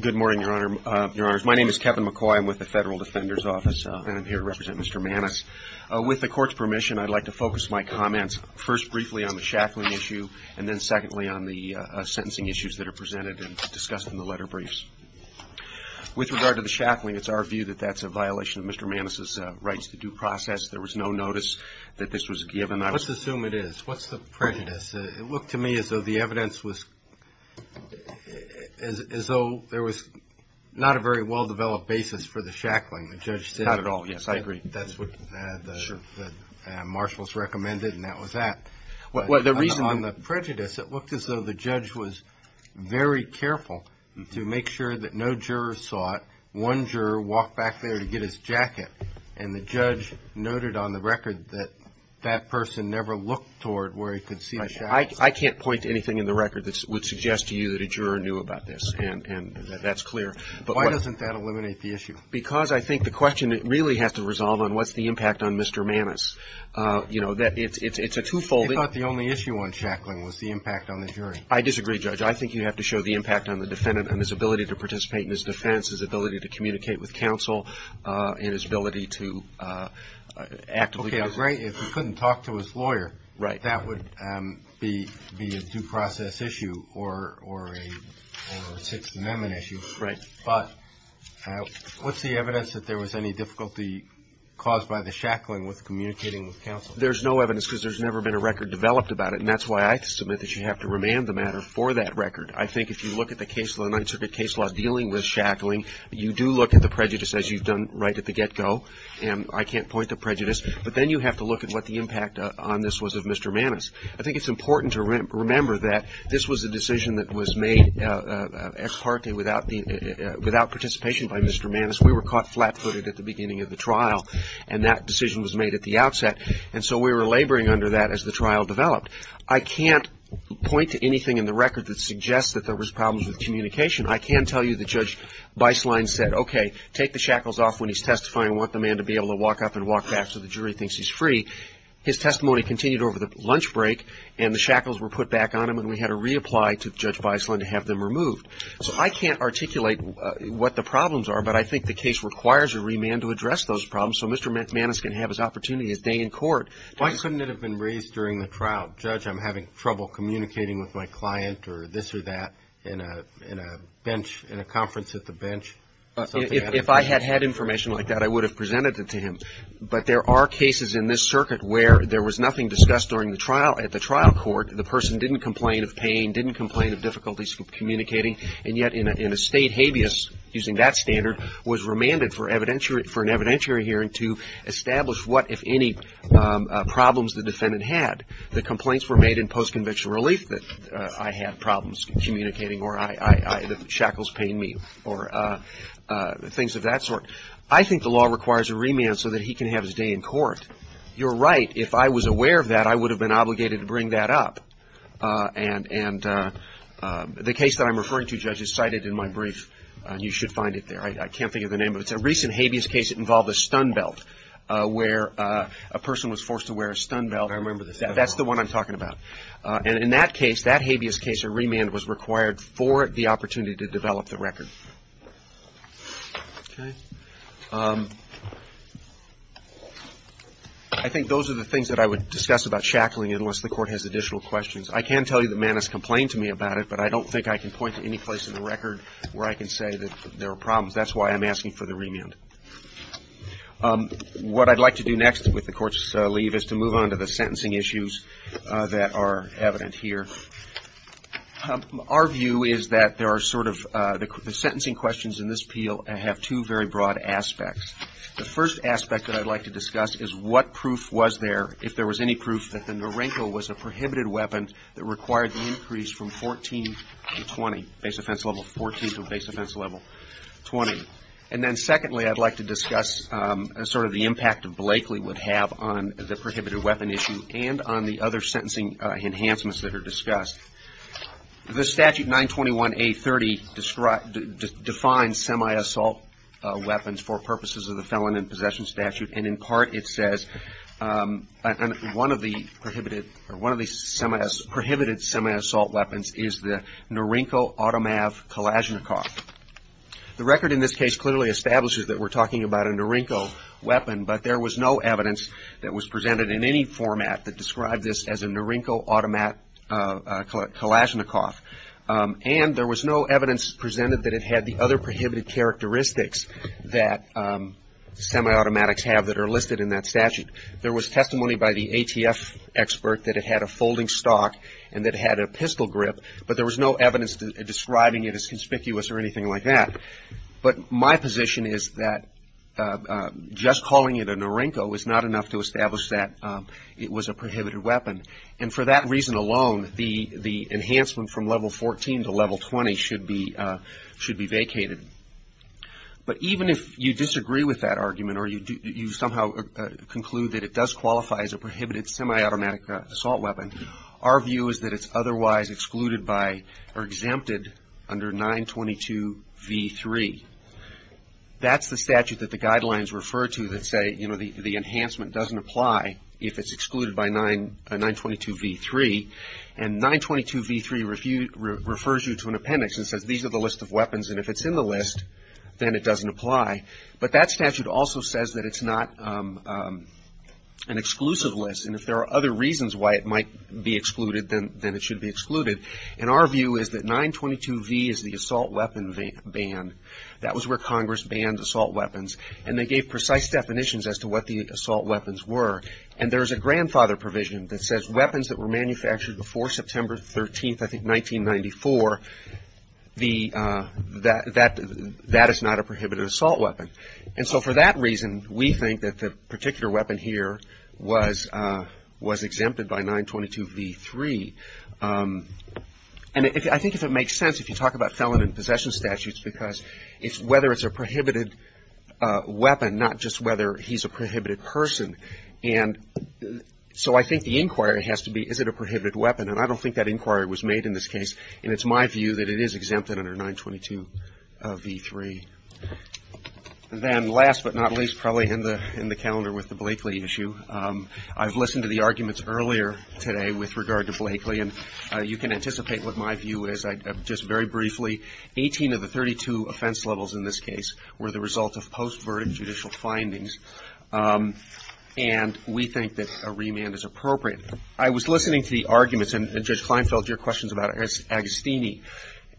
Good morning, your honors. My name is Kevin McCoy. I'm with the Federal Defender's Office and I'm here to represent Mr. Maness. With the court's permission, I'd like to focus my comments first briefly on the shackling issue and then secondly on the sentencing issues that are presented and discussed in the letter briefs. With regard to the shackling, it's our view that that's a violation of Mr. Maness' rights to due process. There was no notice that this was given. Let's assume it is. What's the prejudice? It looked to me as though the evidence was – as though there was not a very well-developed basis for the shackling. Not at all, yes. I agree. That's what the marshals recommended and that was that. On the prejudice, it looked as though the judge was very careful to make sure that no jurors saw it. One juror walked back there to get his jacket and the judge noted on the record that that person never looked toward where he could see the shackles. I can't point to anything in the record that would suggest to you that a juror knew about this and that's clear. Why doesn't that eliminate the issue? Because I think the question really has to resolve on what's the impact on Mr. Maness. It's a twofold – You thought the only issue on shackling was the impact on the jury. I disagree, Judge. I think you have to show the impact on the defendant and his ability to participate in his defense, his ability to communicate with counsel, and his ability to actively – Okay, great. If he couldn't talk to his lawyer, that would be a due process issue or a Sixth Amendment issue. Right. But what's the evidence that there was any difficulty caused by the shackling with communicating with counsel? There's no evidence because there's never been a record developed about it, and that's why I submit that you have to remand the matter for that record. I think if you look at the case law, the Ninth Circuit case law dealing with shackling, you do look at the prejudice as you've done right at the get-go, and I can't point to prejudice, but then you have to look at what the impact on this was of Mr. Maness. I think it's important to remember that this was a decision that was made ex parte without participation by Mr. Maness. We were caught flat-footed at the beginning of the trial, and that decision was made at the outset, and so we were laboring under that as the trial developed. I can't point to anything in the record that suggests that there was problems with communication. I can tell you that Judge Beislein said, okay, take the shackles off when he's testifying. I want the man to be able to walk up and walk back so the jury thinks he's free. His testimony continued over the lunch break, and the shackles were put back on him, and we had to reapply to Judge Beislein to have them removed. So I can't articulate what the problems are, but I think the case requires a remand to address those problems, so Mr. Maness can have his opportunity to stay in court. Why shouldn't it have been raised during the trial? Judge, I'm having trouble communicating with my client or this or that in a conference at the bench. If I had had information like that, I would have presented it to him. But there are cases in this circuit where there was nothing discussed at the trial court. The person didn't complain of pain, didn't complain of difficulties communicating, and yet in a state habeas, using that standard, was remanded for an evidentiary hearing to establish what, if any, problems the defendant had. The complaints were made in post-conviction relief that I had problems communicating or the shackles pained me or things of that sort. I think the law requires a remand so that he can have his day in court. You're right. If I was aware of that, I would have been obligated to bring that up. And the case that I'm referring to, Judge, is cited in my brief. You should find it there. I can't think of the name of it. It's a recent habeas case that involved a stun belt where a person was forced to wear a stun belt. I remember this. That's the one I'm talking about. And in that case, that habeas case, a remand was required for the opportunity to develop the record. Okay. I think those are the things that I would discuss about shackling unless the Court has additional questions. I can tell you that Mann has complained to me about it, but I don't think I can point to any place in the record where I can say that there are problems. That's why I'm asking for the remand. What I'd like to do next with the Court's leave is to move on to the sentencing issues that are evident here. Our view is that there are sort of the sentencing questions in this appeal have two very broad aspects. The first aspect that I'd like to discuss is what proof was there, if there was any proof that the Norenko was a prohibited weapon that required the increase from 14 to 20, base offense level 14 to base offense level 20. And then secondly, I'd like to discuss sort of the impact Blakely would have on the prohibited weapon issue and on the other sentencing enhancements that are discussed. The statute 921A30 defines semi-assault weapons for purposes of the Felon in Possession Statute, and in part it says one of the prohibited semi-assault weapons is the Norenko automav Kalashnikov. The record in this case clearly establishes that we're talking about a Norenko weapon, but there was no evidence that was presented in any format that described this as a Norenko automav Kalashnikov. And there was no evidence presented that it had the other prohibited characteristics that semi-automatics have that are listed in that statute. There was testimony by the ATF expert that it had a folding stock and that it had a pistol grip, but there was no evidence describing it as conspicuous or anything like that. But my position is that just calling it a Norenko is not enough to establish that it was a prohibited weapon. And for that reason alone, the enhancement from level 14 to level 20 should be vacated. But even if you disagree with that argument or you somehow conclude that it does qualify as a prohibited semi-automatic assault weapon, our view is that it's otherwise excluded by or exempted under 922V3. That's the statute that the guidelines refer to that say, you know, the enhancement doesn't apply if it's excluded by 922V3. And 922V3 refers you to an appendix and says these are the list of weapons, and if it's in the list, then it doesn't apply. But that statute also says that it's not an exclusive list, and if there are other reasons why it might be excluded, then it should be excluded. And our view is that 922V is the assault weapon ban. That was where Congress banned assault weapons, and they gave precise definitions as to what the assault weapons were. And there's a grandfather provision that says weapons that were manufactured before September 13th, I think, 1994, that is not a prohibited assault weapon. And so for that reason, we think that the particular weapon here was exempted by 922V3. And I think if it makes sense, if you talk about felon and possession statutes, because it's whether it's a prohibited weapon, not just whether he's a prohibited person. And so I think the inquiry has to be, is it a prohibited weapon? And I don't think that inquiry was made in this case, and it's my view that it is exempted under 922V3. And then last but not least, probably in the calendar with the Blakely issue, I've listened to the arguments earlier today with regard to Blakely, and you can anticipate what my view is. Just very briefly, 18 of the 32 offense levels in this case were the result of post-verdict judicial findings, and we think that a remand is appropriate. I was listening to the arguments, and Judge Kleinfeld, your questions about Agostini,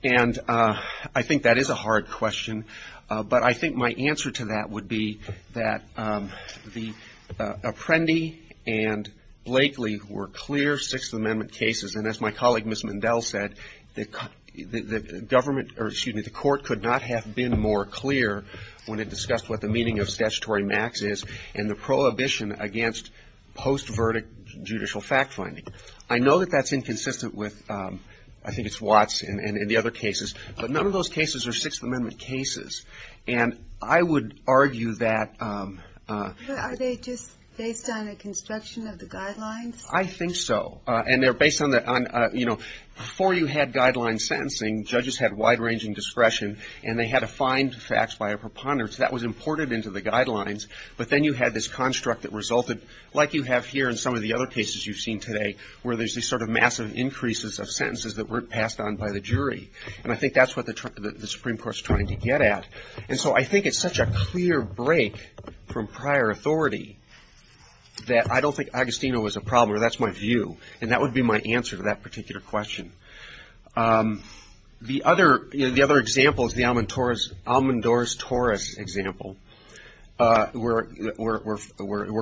and I think that is a hard question, but I think my answer to that would be that the Apprendi and Blakely were clear Sixth Amendment cases, and as my colleague, Ms. Mendel, said, the court could not have been more clear when it discussed what the meaning of statutory max is and the prohibition against post-verdict judicial fact-finding. I know that that's inconsistent with, I think it's Watts and the other cases, but none of those cases are Sixth Amendment cases, and I would argue that. Are they just based on a construction of the guidelines? I think so, and they're based on, you know, before you had guideline sentencing, judges had wide-ranging discretion, and they had to find facts by a preponderance. That was imported into the guidelines, but then you had this construct that resulted, like you have here in some of the other cases you've seen today, where there's this sort of massive increases of sentences that weren't passed on by the jury, and I think that's what the Supreme Court's trying to get at, and so I think it's such a clear break from prior authority that I don't think Agostino is a problem, or that's my view, and that would be my answer to that particular question. The other example is the Almendorz-Torres example, where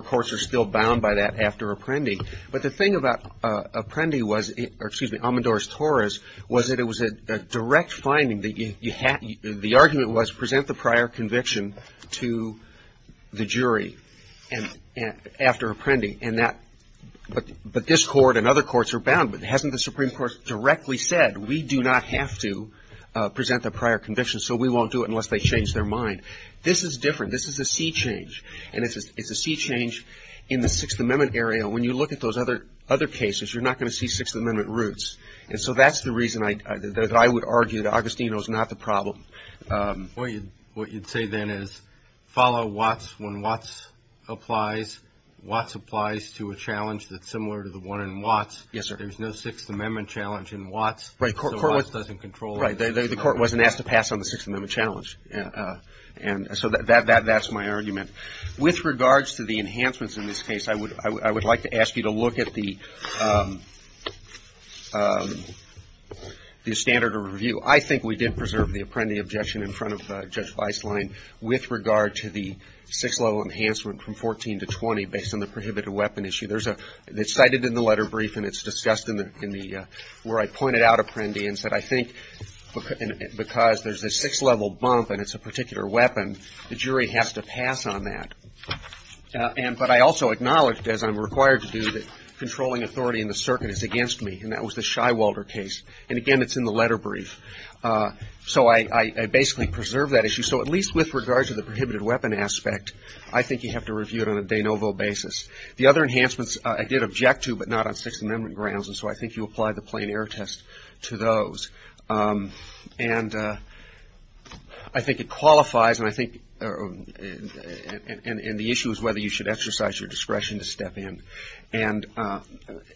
courts are still bound by that after apprending, but the thing about Almendorz-Torres was that it was a direct finding. The argument was present the prior conviction to the jury after apprending, but this court and other courts are bound, but hasn't the Supreme Court directly said, we do not have to present the prior conviction, so we won't do it unless they change their mind? This is different. This is a sea change, and it's a sea change in the Sixth Amendment area. When you look at those other cases, you're not going to see Sixth Amendment roots, and so that's the reason that I would argue that Agostino is not the problem. What you'd say then is follow Watts when Watts applies. Watts applies to a challenge that's similar to the one in Watts. Yes, sir. There's no Sixth Amendment challenge in Watts. Right, the court wasn't asked to pass on the Sixth Amendment challenge, and so that's my argument. With regards to the enhancements in this case, I would like to ask you to look at the standard of review. I think we did preserve the apprendee objection in front of Judge Weisslein with regard to the six-level enhancement from 14 to 20 based on the prohibited weapon issue. It's cited in the letter brief, and it's discussed where I pointed out apprendee, and said I think because there's a six-level bump and it's a particular weapon, the jury has to pass on that. But I also acknowledged, as I'm required to do, that controlling authority in the circuit is against me, and that was the Sheiwalder case. And, again, it's in the letter brief. So I basically preserved that issue. So at least with regards to the prohibited weapon aspect, I think you have to review it on a de novo basis. The other enhancements I did object to, but not on Sixth Amendment grounds, and so I think you apply the plain error test to those. And I think it qualifies, and the issue is whether you should exercise your discretion to step in. And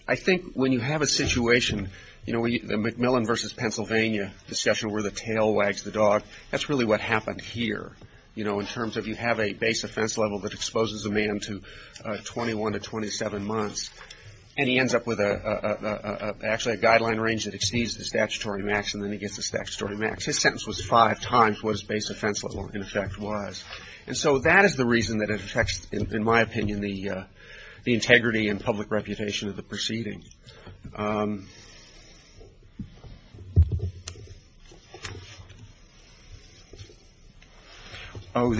I think when you have a situation, you know, the McMillan versus Pennsylvania discussion where the tail wags the dog, that's really what happened here, you know, in terms of you have a base offense level that exposes a man to 21 to 27 months, and he ends up with actually a guideline range that exceeds the statutory max, and then he gets the statutory max. His sentence was five times what his base offense level, in effect, was. And so that is the reason that it affects, in my opinion, the integrity and public reputation of the proceeding. Oh,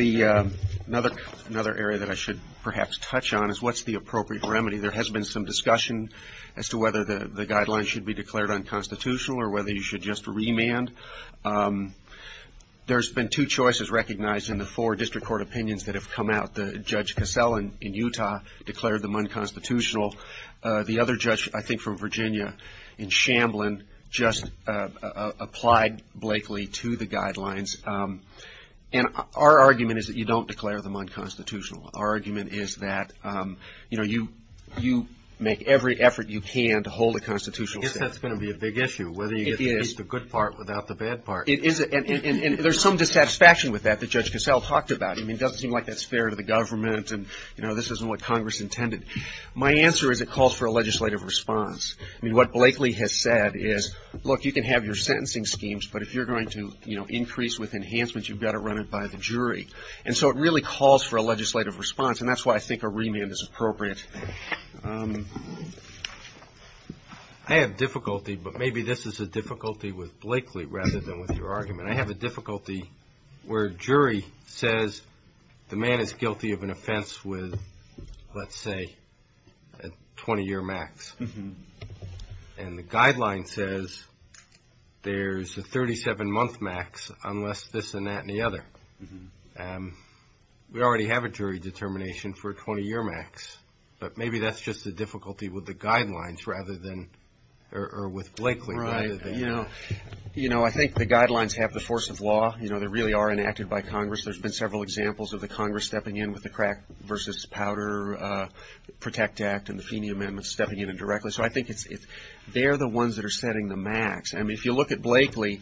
another area that I should perhaps touch on is what's the appropriate remedy. There has been some discussion as to whether the guidelines should be declared unconstitutional or whether you should just remand. There's been two choices recognized in the four district court opinions that have come out. Judge Casella in Utah declared them unconstitutional. The other judge, I think from Virginia, in Shamblin, just applied Blakely to the guidelines. And our argument is that you don't declare them unconstitutional. Our argument is that, you know, you make every effort you can to hold a constitutional statute. I guess that's going to be a big issue. It is. It is the good part without the bad part. It is. And there's some dissatisfaction with that that Judge Casella talked about. I mean, it doesn't seem like that's fair to the government and, you know, this isn't what Congress intended. My answer is it calls for a legislative response. I mean, what Blakely has said is, look, you can have your sentencing schemes, but if you're going to, you know, increase with enhancements, you've got to run it by the jury. And so it really calls for a legislative response, and that's why I think a remand is appropriate. I have difficulty, but maybe this is a difficulty with Blakely rather than with your argument. I have a difficulty where a jury says the man is guilty of an offense with, let's say, a 20-year max. And the guideline says there's a 37-month max unless this and that and the other. We already have a jury determination for a 20-year max, but maybe that's just a difficulty with the guidelines rather than or with Blakely. Right. You know, I think the guidelines have the force of law. You know, they really are enacted by Congress. There's been several examples of the Congress stepping in with the Crack v. Powder Protect Act and the Feeney Amendment stepping in indirectly. So I think they're the ones that are setting the max. I mean, if you look at Blakely,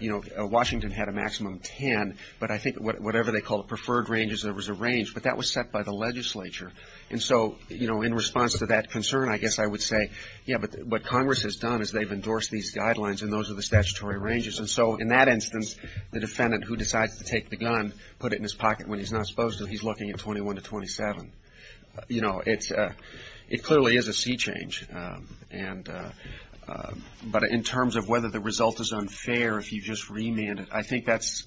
you know, Washington had a maximum 10, but I think whatever they called preferred ranges, there was a range. But that was set by the legislature. And so, you know, in response to that concern, I guess I would say, yeah, but what Congress has done is they've endorsed these guidelines, and those are the statutory ranges. And so in that instance, the defendant who decides to take the gun, put it in his pocket when he's not supposed to. He's looking at 21 to 27. You know, it clearly is a sea change. But in terms of whether the result is unfair if you just remand it, I think that's,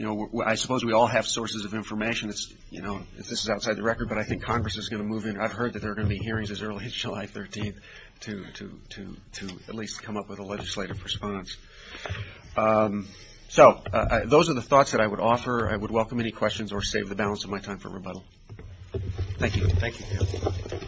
you know, I suppose we all have sources of information. You know, this is outside the record, but I think Congress is going to move in. I've heard that there are going to be hearings as early as July 13th to at least come up with a legislative response. So those are the thoughts that I would offer. I would welcome any questions or save the balance of my time for rebuttal. Thank you. Thank you. Thank you.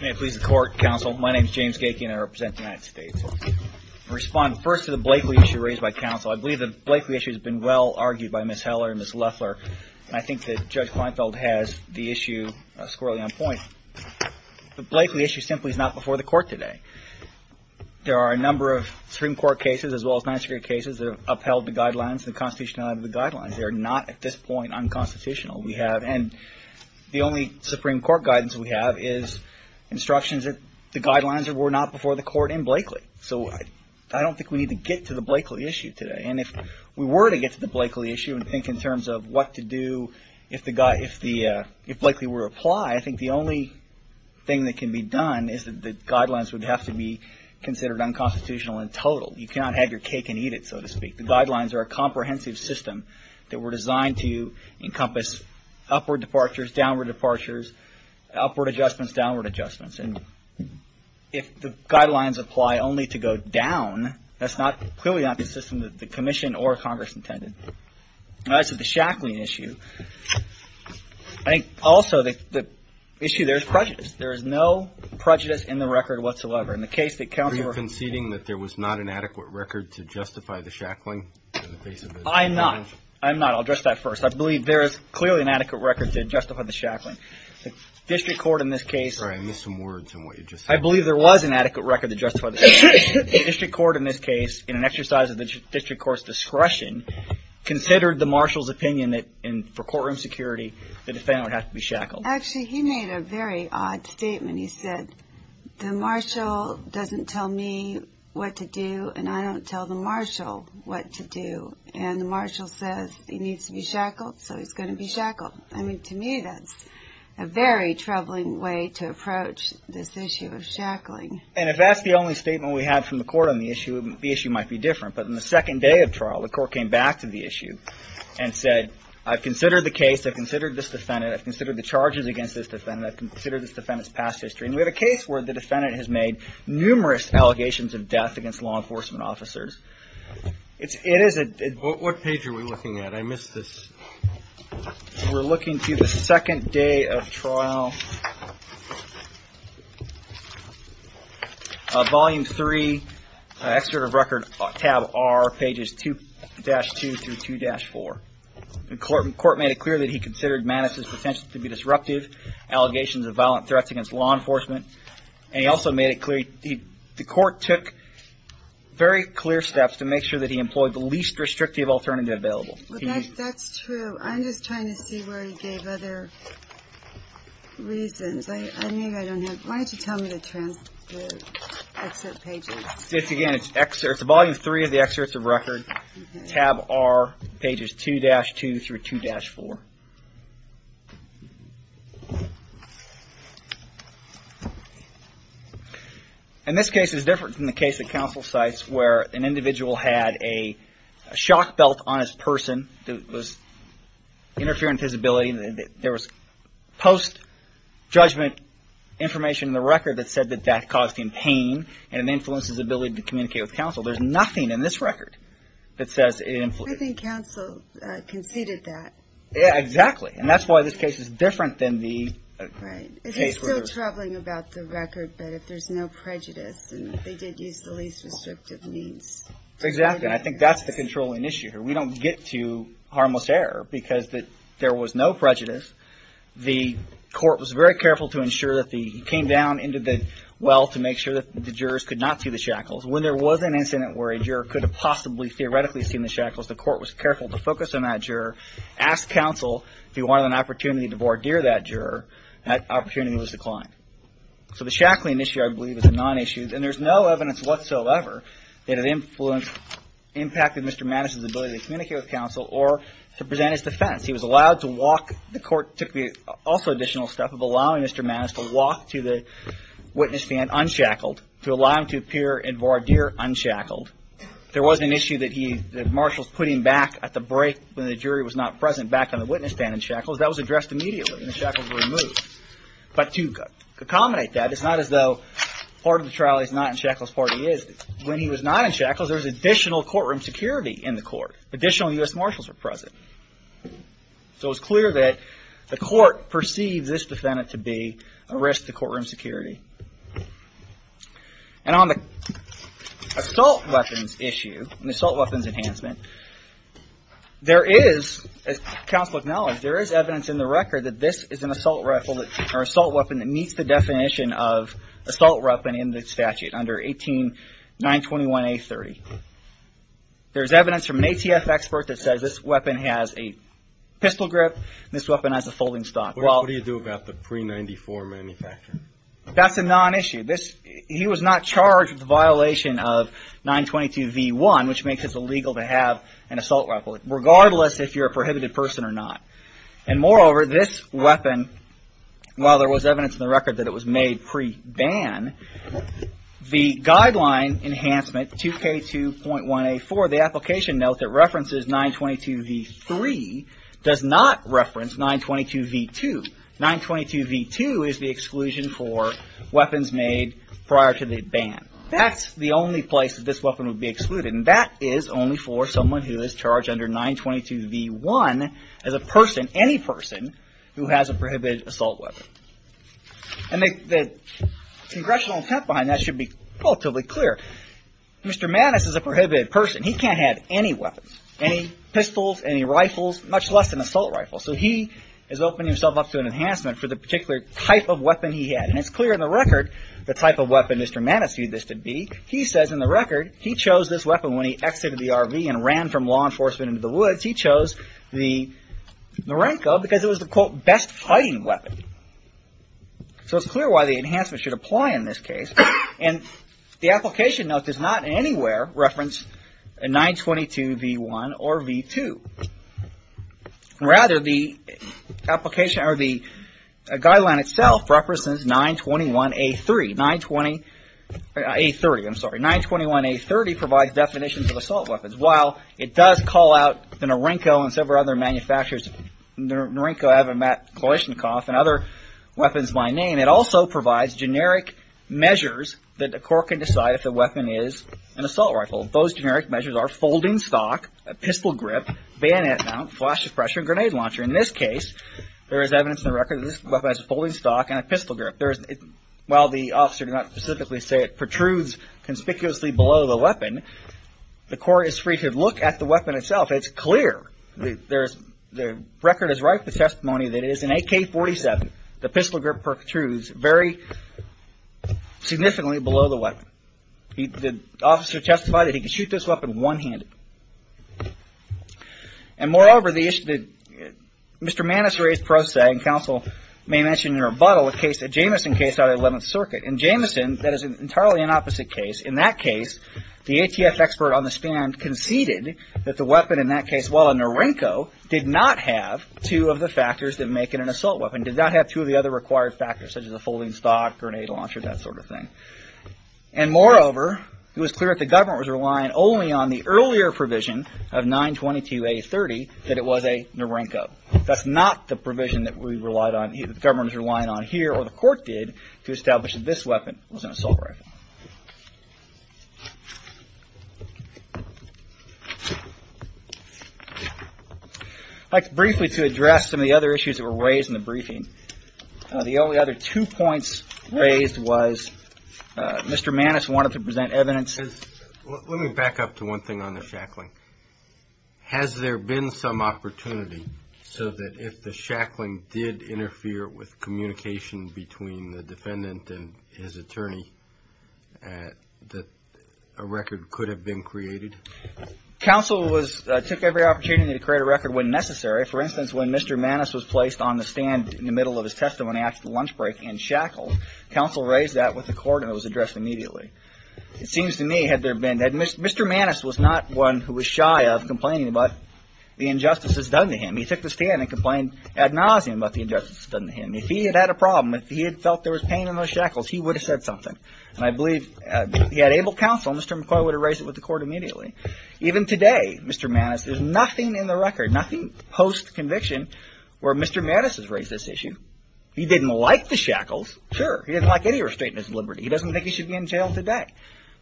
May it please the Court, Counsel. My name is James Gakey, and I represent the United States. I'll respond first to the Blakeley issue raised by Counsel. I believe the Blakeley issue has been well argued by Ms. Heller and Ms. Loeffler, and I think that Judge Kleinfeld has the issue squarely on point. The Blakeley issue simply is not before the Court today. There are a number of Supreme Court cases as well as non-secure cases that have upheld the guidelines, the constitutionality of the guidelines. They are not, at this point, unconstitutional. And the only Supreme Court guidance we have is instructions that the guidelines were not before the Court in Blakeley. So I don't think we need to get to the Blakeley issue today. And if we were to get to the Blakeley issue and think in terms of what to do if Blakeley were to apply, I think the only thing that can be done is that the guidelines would have to be considered unconstitutional in total. You cannot have your cake and eat it, so to speak. The guidelines are a comprehensive system that were designed to encompass upward departures, downward departures, upward adjustments, downward adjustments. And if the guidelines apply only to go down, that's clearly not the system that the Commission or Congress intended. As to the Shackley issue, I think also the issue there is prejudice. There is no prejudice in the record whatsoever. Are you conceding that there was not an adequate record to justify the shackling? I'm not. I'm not. I'll address that first. I believe there is clearly an adequate record to justify the shackling. The district court in this case. Sorry, I missed some words in what you just said. I believe there was an adequate record to justify the shackling. The district court in this case, in an exercise of the district court's discretion, considered the marshal's opinion that for courtroom security the defendant would have to be shackled. Actually, he made a very odd statement. He said, the marshal doesn't tell me what to do, and I don't tell the marshal what to do. And the marshal says he needs to be shackled, so he's going to be shackled. I mean, to me that's a very troubling way to approach this issue of shackling. And if that's the only statement we have from the court on the issue, the issue might be different. But on the second day of trial, the court came back to the issue and said, I've considered the case, I've considered this defendant, I've considered the charges against this defendant, I've considered this defendant's past history. And we have a case where the defendant has made numerous allegations of death against law enforcement officers. It is a... What page are we looking at? I missed this. We're looking to the second day of trial, volume three, excerpt of record, tab R, pages 2-2 through 2-4. The court made it clear that he considered Manus' potential to be disruptive, allegations of violent threats against law enforcement. And he also made it clear... The court took very clear steps to make sure that he employed the least restrictive alternative available. That's true. I'm just trying to see where he gave other reasons. I think I don't have... Why don't you tell me the transcript, the excerpt pages? It's again, it's volume three of the excerpt of record, tab R, pages 2-2 through 2-4. And this case is different from the case at counsel sites where an individual had a shock belt on his person that was interfering with his ability. There was post-judgment information in the record that said that that caused him pain and it influenced his ability to communicate with counsel. There's nothing in this record that says it influenced him. I think counsel conceded that. Yeah, exactly. And that's why this case is different than the case where... Right. It's still troubling about the record, but if there's no prejudice, and they did use the least restrictive means. Exactly. And I think that's the controlling issue here. We don't get to harmless error because there was no prejudice. The court was very careful to ensure that he came down into the well to make sure that the jurors could not see the shackles. When there was an incident where a juror could have possibly theoretically seen the shackles, the court was careful to focus on that juror, ask counsel if he wanted an opportunity to voir dire that juror, that opportunity was declined. So the shackling issue, I believe, is a non-issue, and there's no evidence whatsoever that it impacted Mr. Mattis' ability to communicate with counsel or to present his defense. He was allowed to walk. The court took the also additional step of allowing Mr. Mattis to walk to the witness stand unshackled, to allow him to appear and voir dire unshackled. There wasn't an issue that marshals put him back at the break when the jury was not present, back on the witness stand in shackles. That was addressed immediately, and the shackles were removed. But to accommodate that, it's not as though part of the trial he's not in shackles, part he is. When he was not in shackles, there was additional courtroom security in the court. Additional U.S. marshals were present. So it's clear that the court perceives this defendant to be a risk to courtroom security. And on the assault weapons issue, the assault weapons enhancement, there is, as counsel acknowledges, there is evidence in the record that this is an assault weapon that meets the definition of assault weapon in the statute under 18.921.A.30. There's evidence from an ATF expert that says this weapon has a pistol grip, this weapon has a folding stock. What do you do about the pre-'94 manufacturer? That's a non-issue. He was not charged with the violation of 922.V.1, which makes it illegal to have an assault weapon, regardless if you're a prohibited person or not. And moreover, this weapon, while there was evidence in the record that it was made pre-ban, the guideline enhancement, 2K2.1.A.4, the application note that references 922.V.3 does not reference 922.V.2. 922.V.2 is the exclusion for weapons made prior to the ban. That's the only place that this weapon would be excluded, and that is only for someone who is charged under 922.V.1 as a person, any person, who has a prohibited assault weapon. And the congressional intent behind that should be relatively clear. Mr. Mattis is a prohibited person. He can't have any weapons, any pistols, any rifles, much less an assault rifle. So he has opened himself up to an enhancement for the particular type of weapon he had. And it's clear in the record the type of weapon Mr. Mattis viewed this to be. He says in the record he chose this weapon when he exited the RV and ran from law enforcement into the woods. He says he chose the Narenko because it was the, quote, best fighting weapon. So it's clear why the enhancement should apply in this case. And the application note does not anywhere reference 922.V.1 or 922.V.2. Rather, the application or the guideline itself represents 921.A.30. I'm sorry, 921.A.30 provides definitions of assault weapons. While it does call out the Narenko and several other manufacturers, Narenko, Avamat, Kalashnikov, and other weapons by name, it also provides generic measures that the court can decide if the weapon is an assault rifle. Those generic measures are folding stock, a pistol grip, bayonet mount, flash suppressor, and grenade launcher. In this case, there is evidence in the record that this weapon has a folding stock and a pistol grip. While the officer did not specifically say it protrudes conspicuously below the weapon, the court is free to look at the weapon itself. It's clear. The record is rife with testimony that it is an AK-47. The pistol grip protrudes very significantly below the weapon. The officer testified that he could shoot this weapon one-handed. And moreover, the issue that Mr. Maness raised pro se, and counsel may mention in rebuttal, a Jameson case out of 11th Circuit. In Jameson, that is an entirely opposite case. In that case, the ATF expert on the stand conceded that the weapon in that case, while a Narenko, did not have two of the factors that make it an assault weapon. Did not have two of the other required factors, such as a folding stock, grenade launcher, that sort of thing. And moreover, it was clear that the government was relying only on the earlier provision of 922A30 that it was a Narenko. That's not the provision that the government is relying on here, or the court did to establish that this weapon was an assault rifle. I'd like briefly to address some of the other issues that were raised in the briefing. The only other two points raised was Mr. Maness wanted to present evidence. Let me back up to one thing on the shackling. Has there been some opportunity so that if the shackling did interfere with communication between the defendant and his attorney, that a record could have been created? Counsel took every opportunity to create a record when necessary. For instance, when Mr. Maness was placed on the stand in the middle of his testimony after the lunch break and shackled, counsel raised that with the court and it was addressed immediately. It seems to me, had there been, Mr. Maness was not one who was shy of complaining about the injustices done to him. He took the stand and complained ad nauseum about the injustices done to him. If he had had a problem, if he had felt there was pain in those shackles, he would have said something. And I believe he had able counsel, Mr. McCoy would have raised it with the court immediately. Even today, Mr. Maness, there's nothing in the record, nothing post-conviction where Mr. Maness has raised this issue. He didn't like the shackles, sure. He didn't like any restraint in his liberty. He doesn't think he should be in jail today.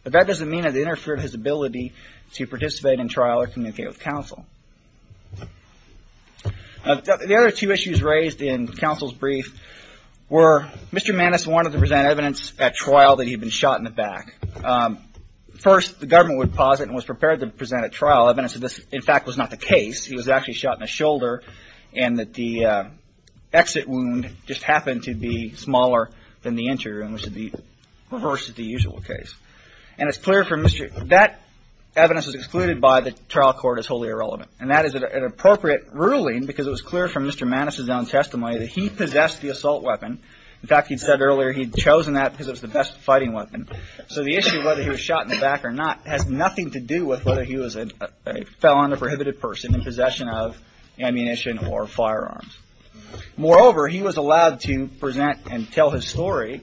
But that doesn't mean it interfered with his ability to participate in trial or communicate with counsel. The other two issues raised in counsel's brief were Mr. Maness wanted to present evidence at trial that he had been shot in the back. First, the government would posit and was prepared to present at trial evidence that this, in fact, was not the case. He was actually shot in the shoulder and that the exit wound just happened to be smaller than the injury, which is the reverse of the usual case. And it's clear from Mr. That evidence is excluded by the trial court as wholly irrelevant. And that is an appropriate ruling because it was clear from Mr. Maness' own testimony that he possessed the assault weapon. In fact, he'd said earlier he'd chosen that because it was the best fighting weapon. So the issue of whether he was shot in the back or not has nothing to do with whether he was a felon, a prohibited person in possession of ammunition or firearms. Moreover, he was allowed to present and tell his story.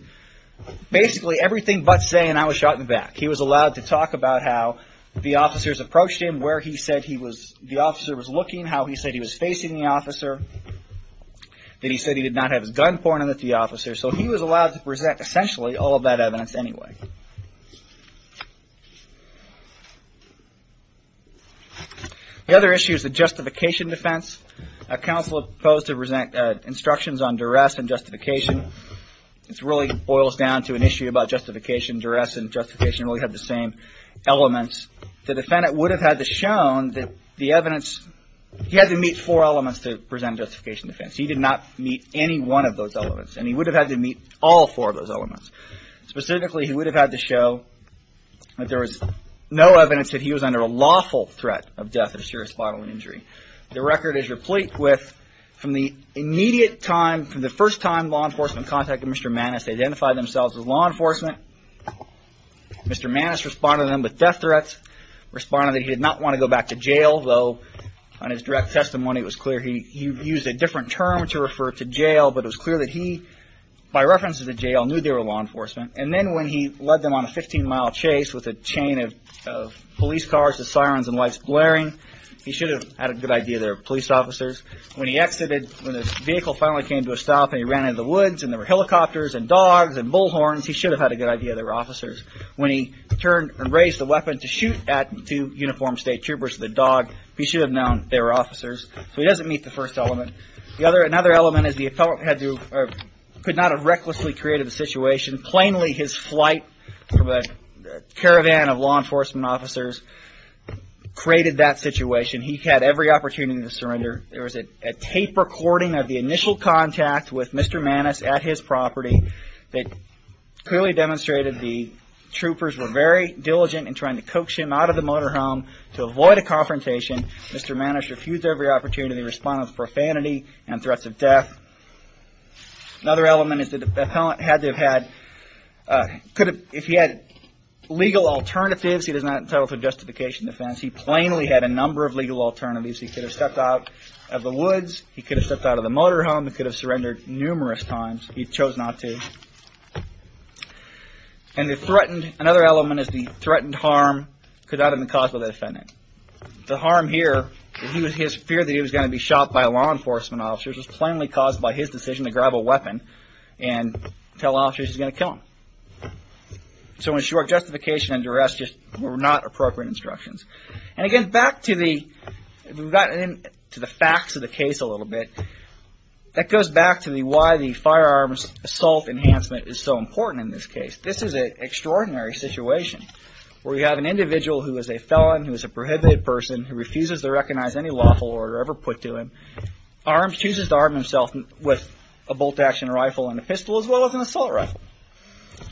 Basically, everything but saying I was shot in the back. He was allowed to talk about how the officers approached him, where he said he was. The officer was looking how he said he was facing the officer. Then he said he did not have his gun pointed at the officer. So he was allowed to present essentially all of that evidence anyway. The other issue is the justification defense. A counsel opposed to present instructions on duress and justification. It's really boils down to an issue about justification, duress and justification. We have the same elements. The defendant would have had the shown that the evidence he had to meet four elements to present justification defense. He did not meet any one of those elements. And he would have had to meet all four of those elements. Specifically, he would have had to show that there was no evidence that he was under a lawful threat of death or serious bodily injury. The record is replete with from the immediate time, from the first time law enforcement contacted Mr. Maness, they identified themselves as law enforcement. Mr. Maness responded to them with death threats, responded that he did not want to go back to jail, though on his direct testimony, it was clear he used a different term to refer to jail. But it was clear that he, by reference to the jail, knew they were law enforcement. And then when he led them on a 15-mile chase with a chain of police cars, the sirens and lights blaring, he should have had a good idea they were police officers. When he exited, when his vehicle finally came to a stop and he ran into the woods and there were helicopters and dogs and bullhorns, he should have had a good idea they were officers. When he turned and raised the weapon to shoot at two uniformed state troopers with a dog, he should have known they were officers. So he doesn't meet the first element. Another element is the appellant could not have recklessly created the situation. Plainly, his flight from a caravan of law enforcement officers created that situation. He had every opportunity to surrender. There was a tape recording of the initial contact with Mr. Maness at his property that clearly demonstrated the troopers were very diligent in trying to coax him out of the motorhome to avoid a confrontation. Mr. Maness refused every opportunity to respond with profanity and threats of death. Another element is the appellant had to have had – if he had legal alternatives, he was not entitled to justification defense. He plainly had a number of legal alternatives. He could have stepped out of the woods. He could have stepped out of the motorhome. He could have surrendered numerous times. He chose not to. And the threatened – another element is the threatened harm could not have been caused by the defendant. The harm here, his fear that he was going to be shot by law enforcement officers, was plainly caused by his decision to grab a weapon and tell officers he was going to kill him. So in short, justification and duress were not appropriate instructions. And again, back to the facts of the case a little bit, that goes back to why the firearms assault enhancement is so important in this case. This is an extraordinary situation where you have an individual who is a felon, who is a prohibited person, who refuses to recognize any lawful order ever put to him, chooses to arm himself with a bolt-action rifle and a pistol as well as an assault rifle.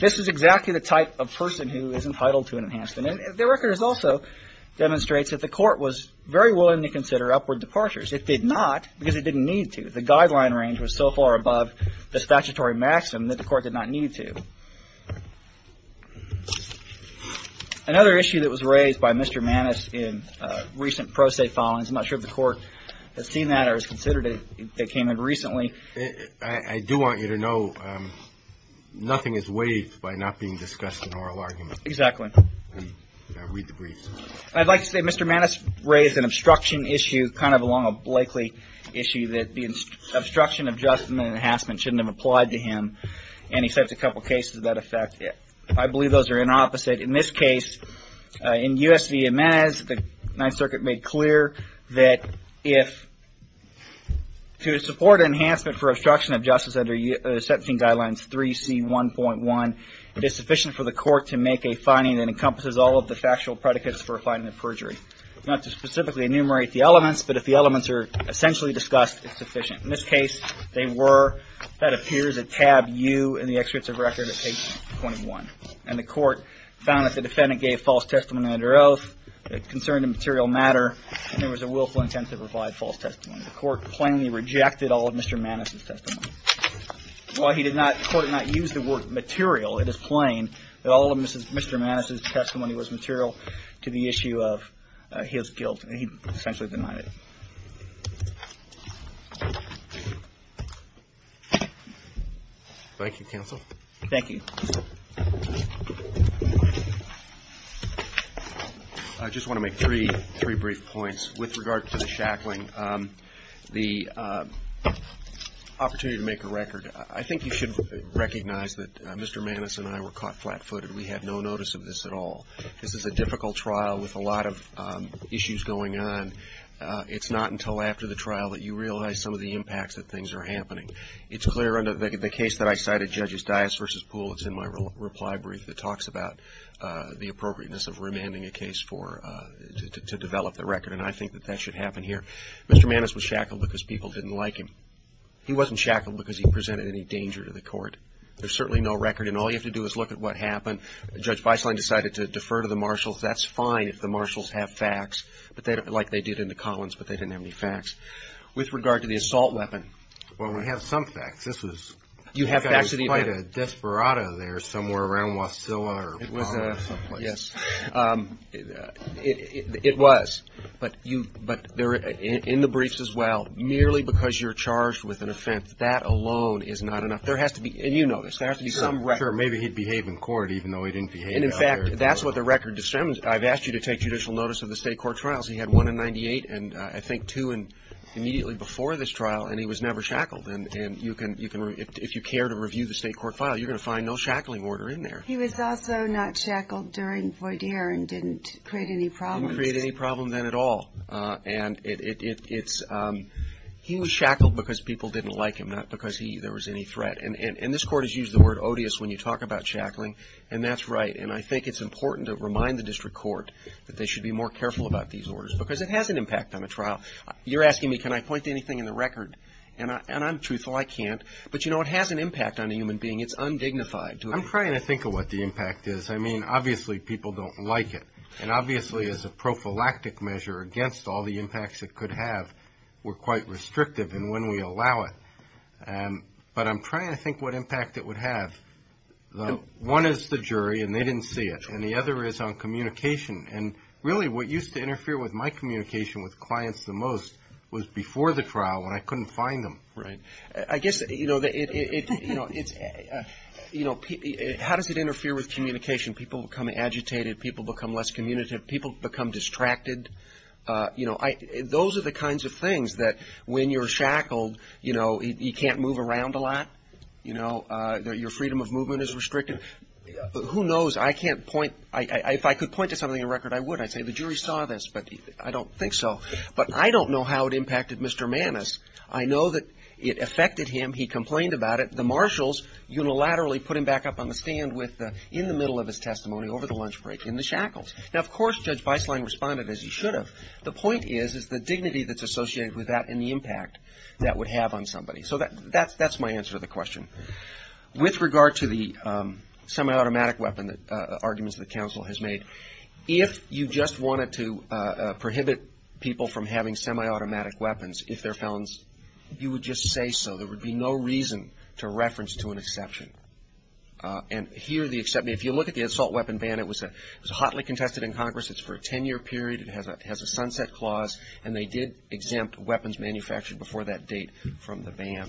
This is exactly the type of person who is entitled to an enhancement. And the record also demonstrates that the court was very willing to consider upward departures. It did not because it didn't need to. The guideline range was so far above the statutory maximum that the court did not need to. Another issue that was raised by Mr. Maness in recent pro se filings, I'm not sure if the court has seen that or has considered it, that came in recently. I do want you to know, nothing is waived by not being discussed in oral arguments. Exactly. I read the briefs. I'd like to say Mr. Maness raised an obstruction issue, kind of along a Blakely issue, that the obstruction of adjustment enhancement shouldn't have applied to him. And he cited a couple of cases that affect it. I believe those are inopposite. In this case, in U.S. v. Inez, the Ninth Circuit made clear that if, to support enhancement for obstruction of justice under Section Guidelines 3C1.1, it is sufficient for the court to make a finding that encompasses all of the factual predicates for a finding of perjury. Not to specifically enumerate the elements, but if the elements are essentially discussed, it's sufficient. In this case, they were. That appears at tab U in the excerpts of record at page 21. And the court found that the defendant gave false testimony under oath that concerned a material matter, and there was a willful intent to provide false testimony. The court plainly rejected all of Mr. Maness's testimony. While the court did not use the word material, it is plain that all of Mr. Maness's testimony was material to the issue of his guilt. And he essentially denied it. Thank you, counsel. Thank you. I just want to make three brief points with regard to the shackling. The opportunity to make a record. I think you should recognize that Mr. Maness and I were caught flat-footed. We had no notice of this at all. This is a difficult trial with a lot of issues going on. It's not until after the trial that you realize some of the impacts that things are happening. It's clear under the case that I cited, Judges Dias versus Poole, it's in my reply brief that talks about the appropriateness of remanding a case to develop the record, and I think that that should happen here. Mr. Maness was shackled because people didn't like him. He wasn't shackled because he presented any danger to the court. There's certainly no record, and all you have to do is look at what happened. Judge Beisling decided to defer to the marshals. That's fine if the marshals have facts, like they did in the Collins, but they didn't have any facts. With regard to the assault weapon. Well, we have some facts. This was quite a desperado there somewhere around Wasilla. Yes, it was. Yes, but in the briefs as well, merely because you're charged with an offense, that alone is not enough. There has to be, and you know this, there has to be some record. Sure, maybe he'd behave in court even though he didn't behave out there. And, in fact, that's what the record describes. I've asked you to take judicial notice of the state court trials. He had one in 98, and I think two immediately before this trial, and he was never shackled. And if you care to review the state court file, you're going to find no shackling order in there. He was also not shackled during Voydier and didn't create any problems. He didn't create any problem then at all. And he was shackled because people didn't like him, not because there was any threat. And this court has used the word odious when you talk about shackling, and that's right. And I think it's important to remind the district court that they should be more careful about these orders because it has an impact on the trial. You're asking me can I point to anything in the record, and I'm truthful, I can't. But, you know, it has an impact on a human being. It's undignified. I'm trying to think of what the impact is. I mean, obviously people don't like it. And obviously as a prophylactic measure against all the impacts it could have, we're quite restrictive in when we allow it. But I'm trying to think what impact it would have. One is the jury, and they didn't see it. And the other is on communication. And really what used to interfere with my communication with clients the most was before the trial when I couldn't find them. Right. I guess, you know, how does it interfere with communication? People become agitated. People become less communicative. People become distracted. You know, those are the kinds of things that when you're shackled, you know, you can't move around a lot. You know, your freedom of movement is restricted. Who knows? I can't point. If I could point to something in record, I would. I'd say the jury saw this, but I don't think so. But I don't know how it impacted Mr. Manis. I know that it affected him. He complained about it. The marshals unilaterally put him back up on the stand in the middle of his testimony over the lunch break in the shackles. Now, of course, Judge Beisling responded as he should have. The point is, is the dignity that's associated with that and the impact that would have on somebody. So that's my answer to the question. With regard to the semi-automatic weapon arguments that counsel has made, if you just wanted to prohibit people from having semi-automatic weapons if they're felons, you would just say so. There would be no reason to reference to an exception. And here the exception, if you look at the assault weapon ban, it was hotly contested in Congress. It's for a 10-year period. It has a sunset clause. And they did exempt weapons manufactured before that date from the ban.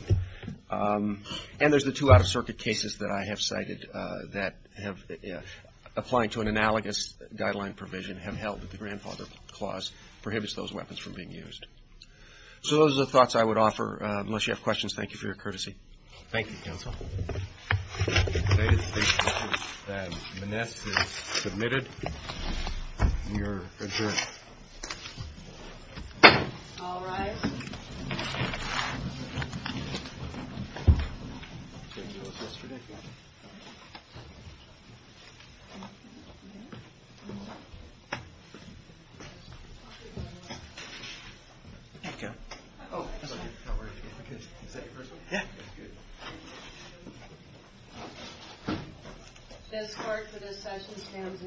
And there's the two out-of-circuit cases that I have cited that have, applying to an analogous guideline provision, have held that the grandfather clause prohibits those weapons from being used. So those are the thoughts I would offer. Unless you have questions, thank you for your courtesy. Thank you, counsel. The latest statement is that Moness is submitted. And you're adjourned. All rise. This court for this session stands adjourned.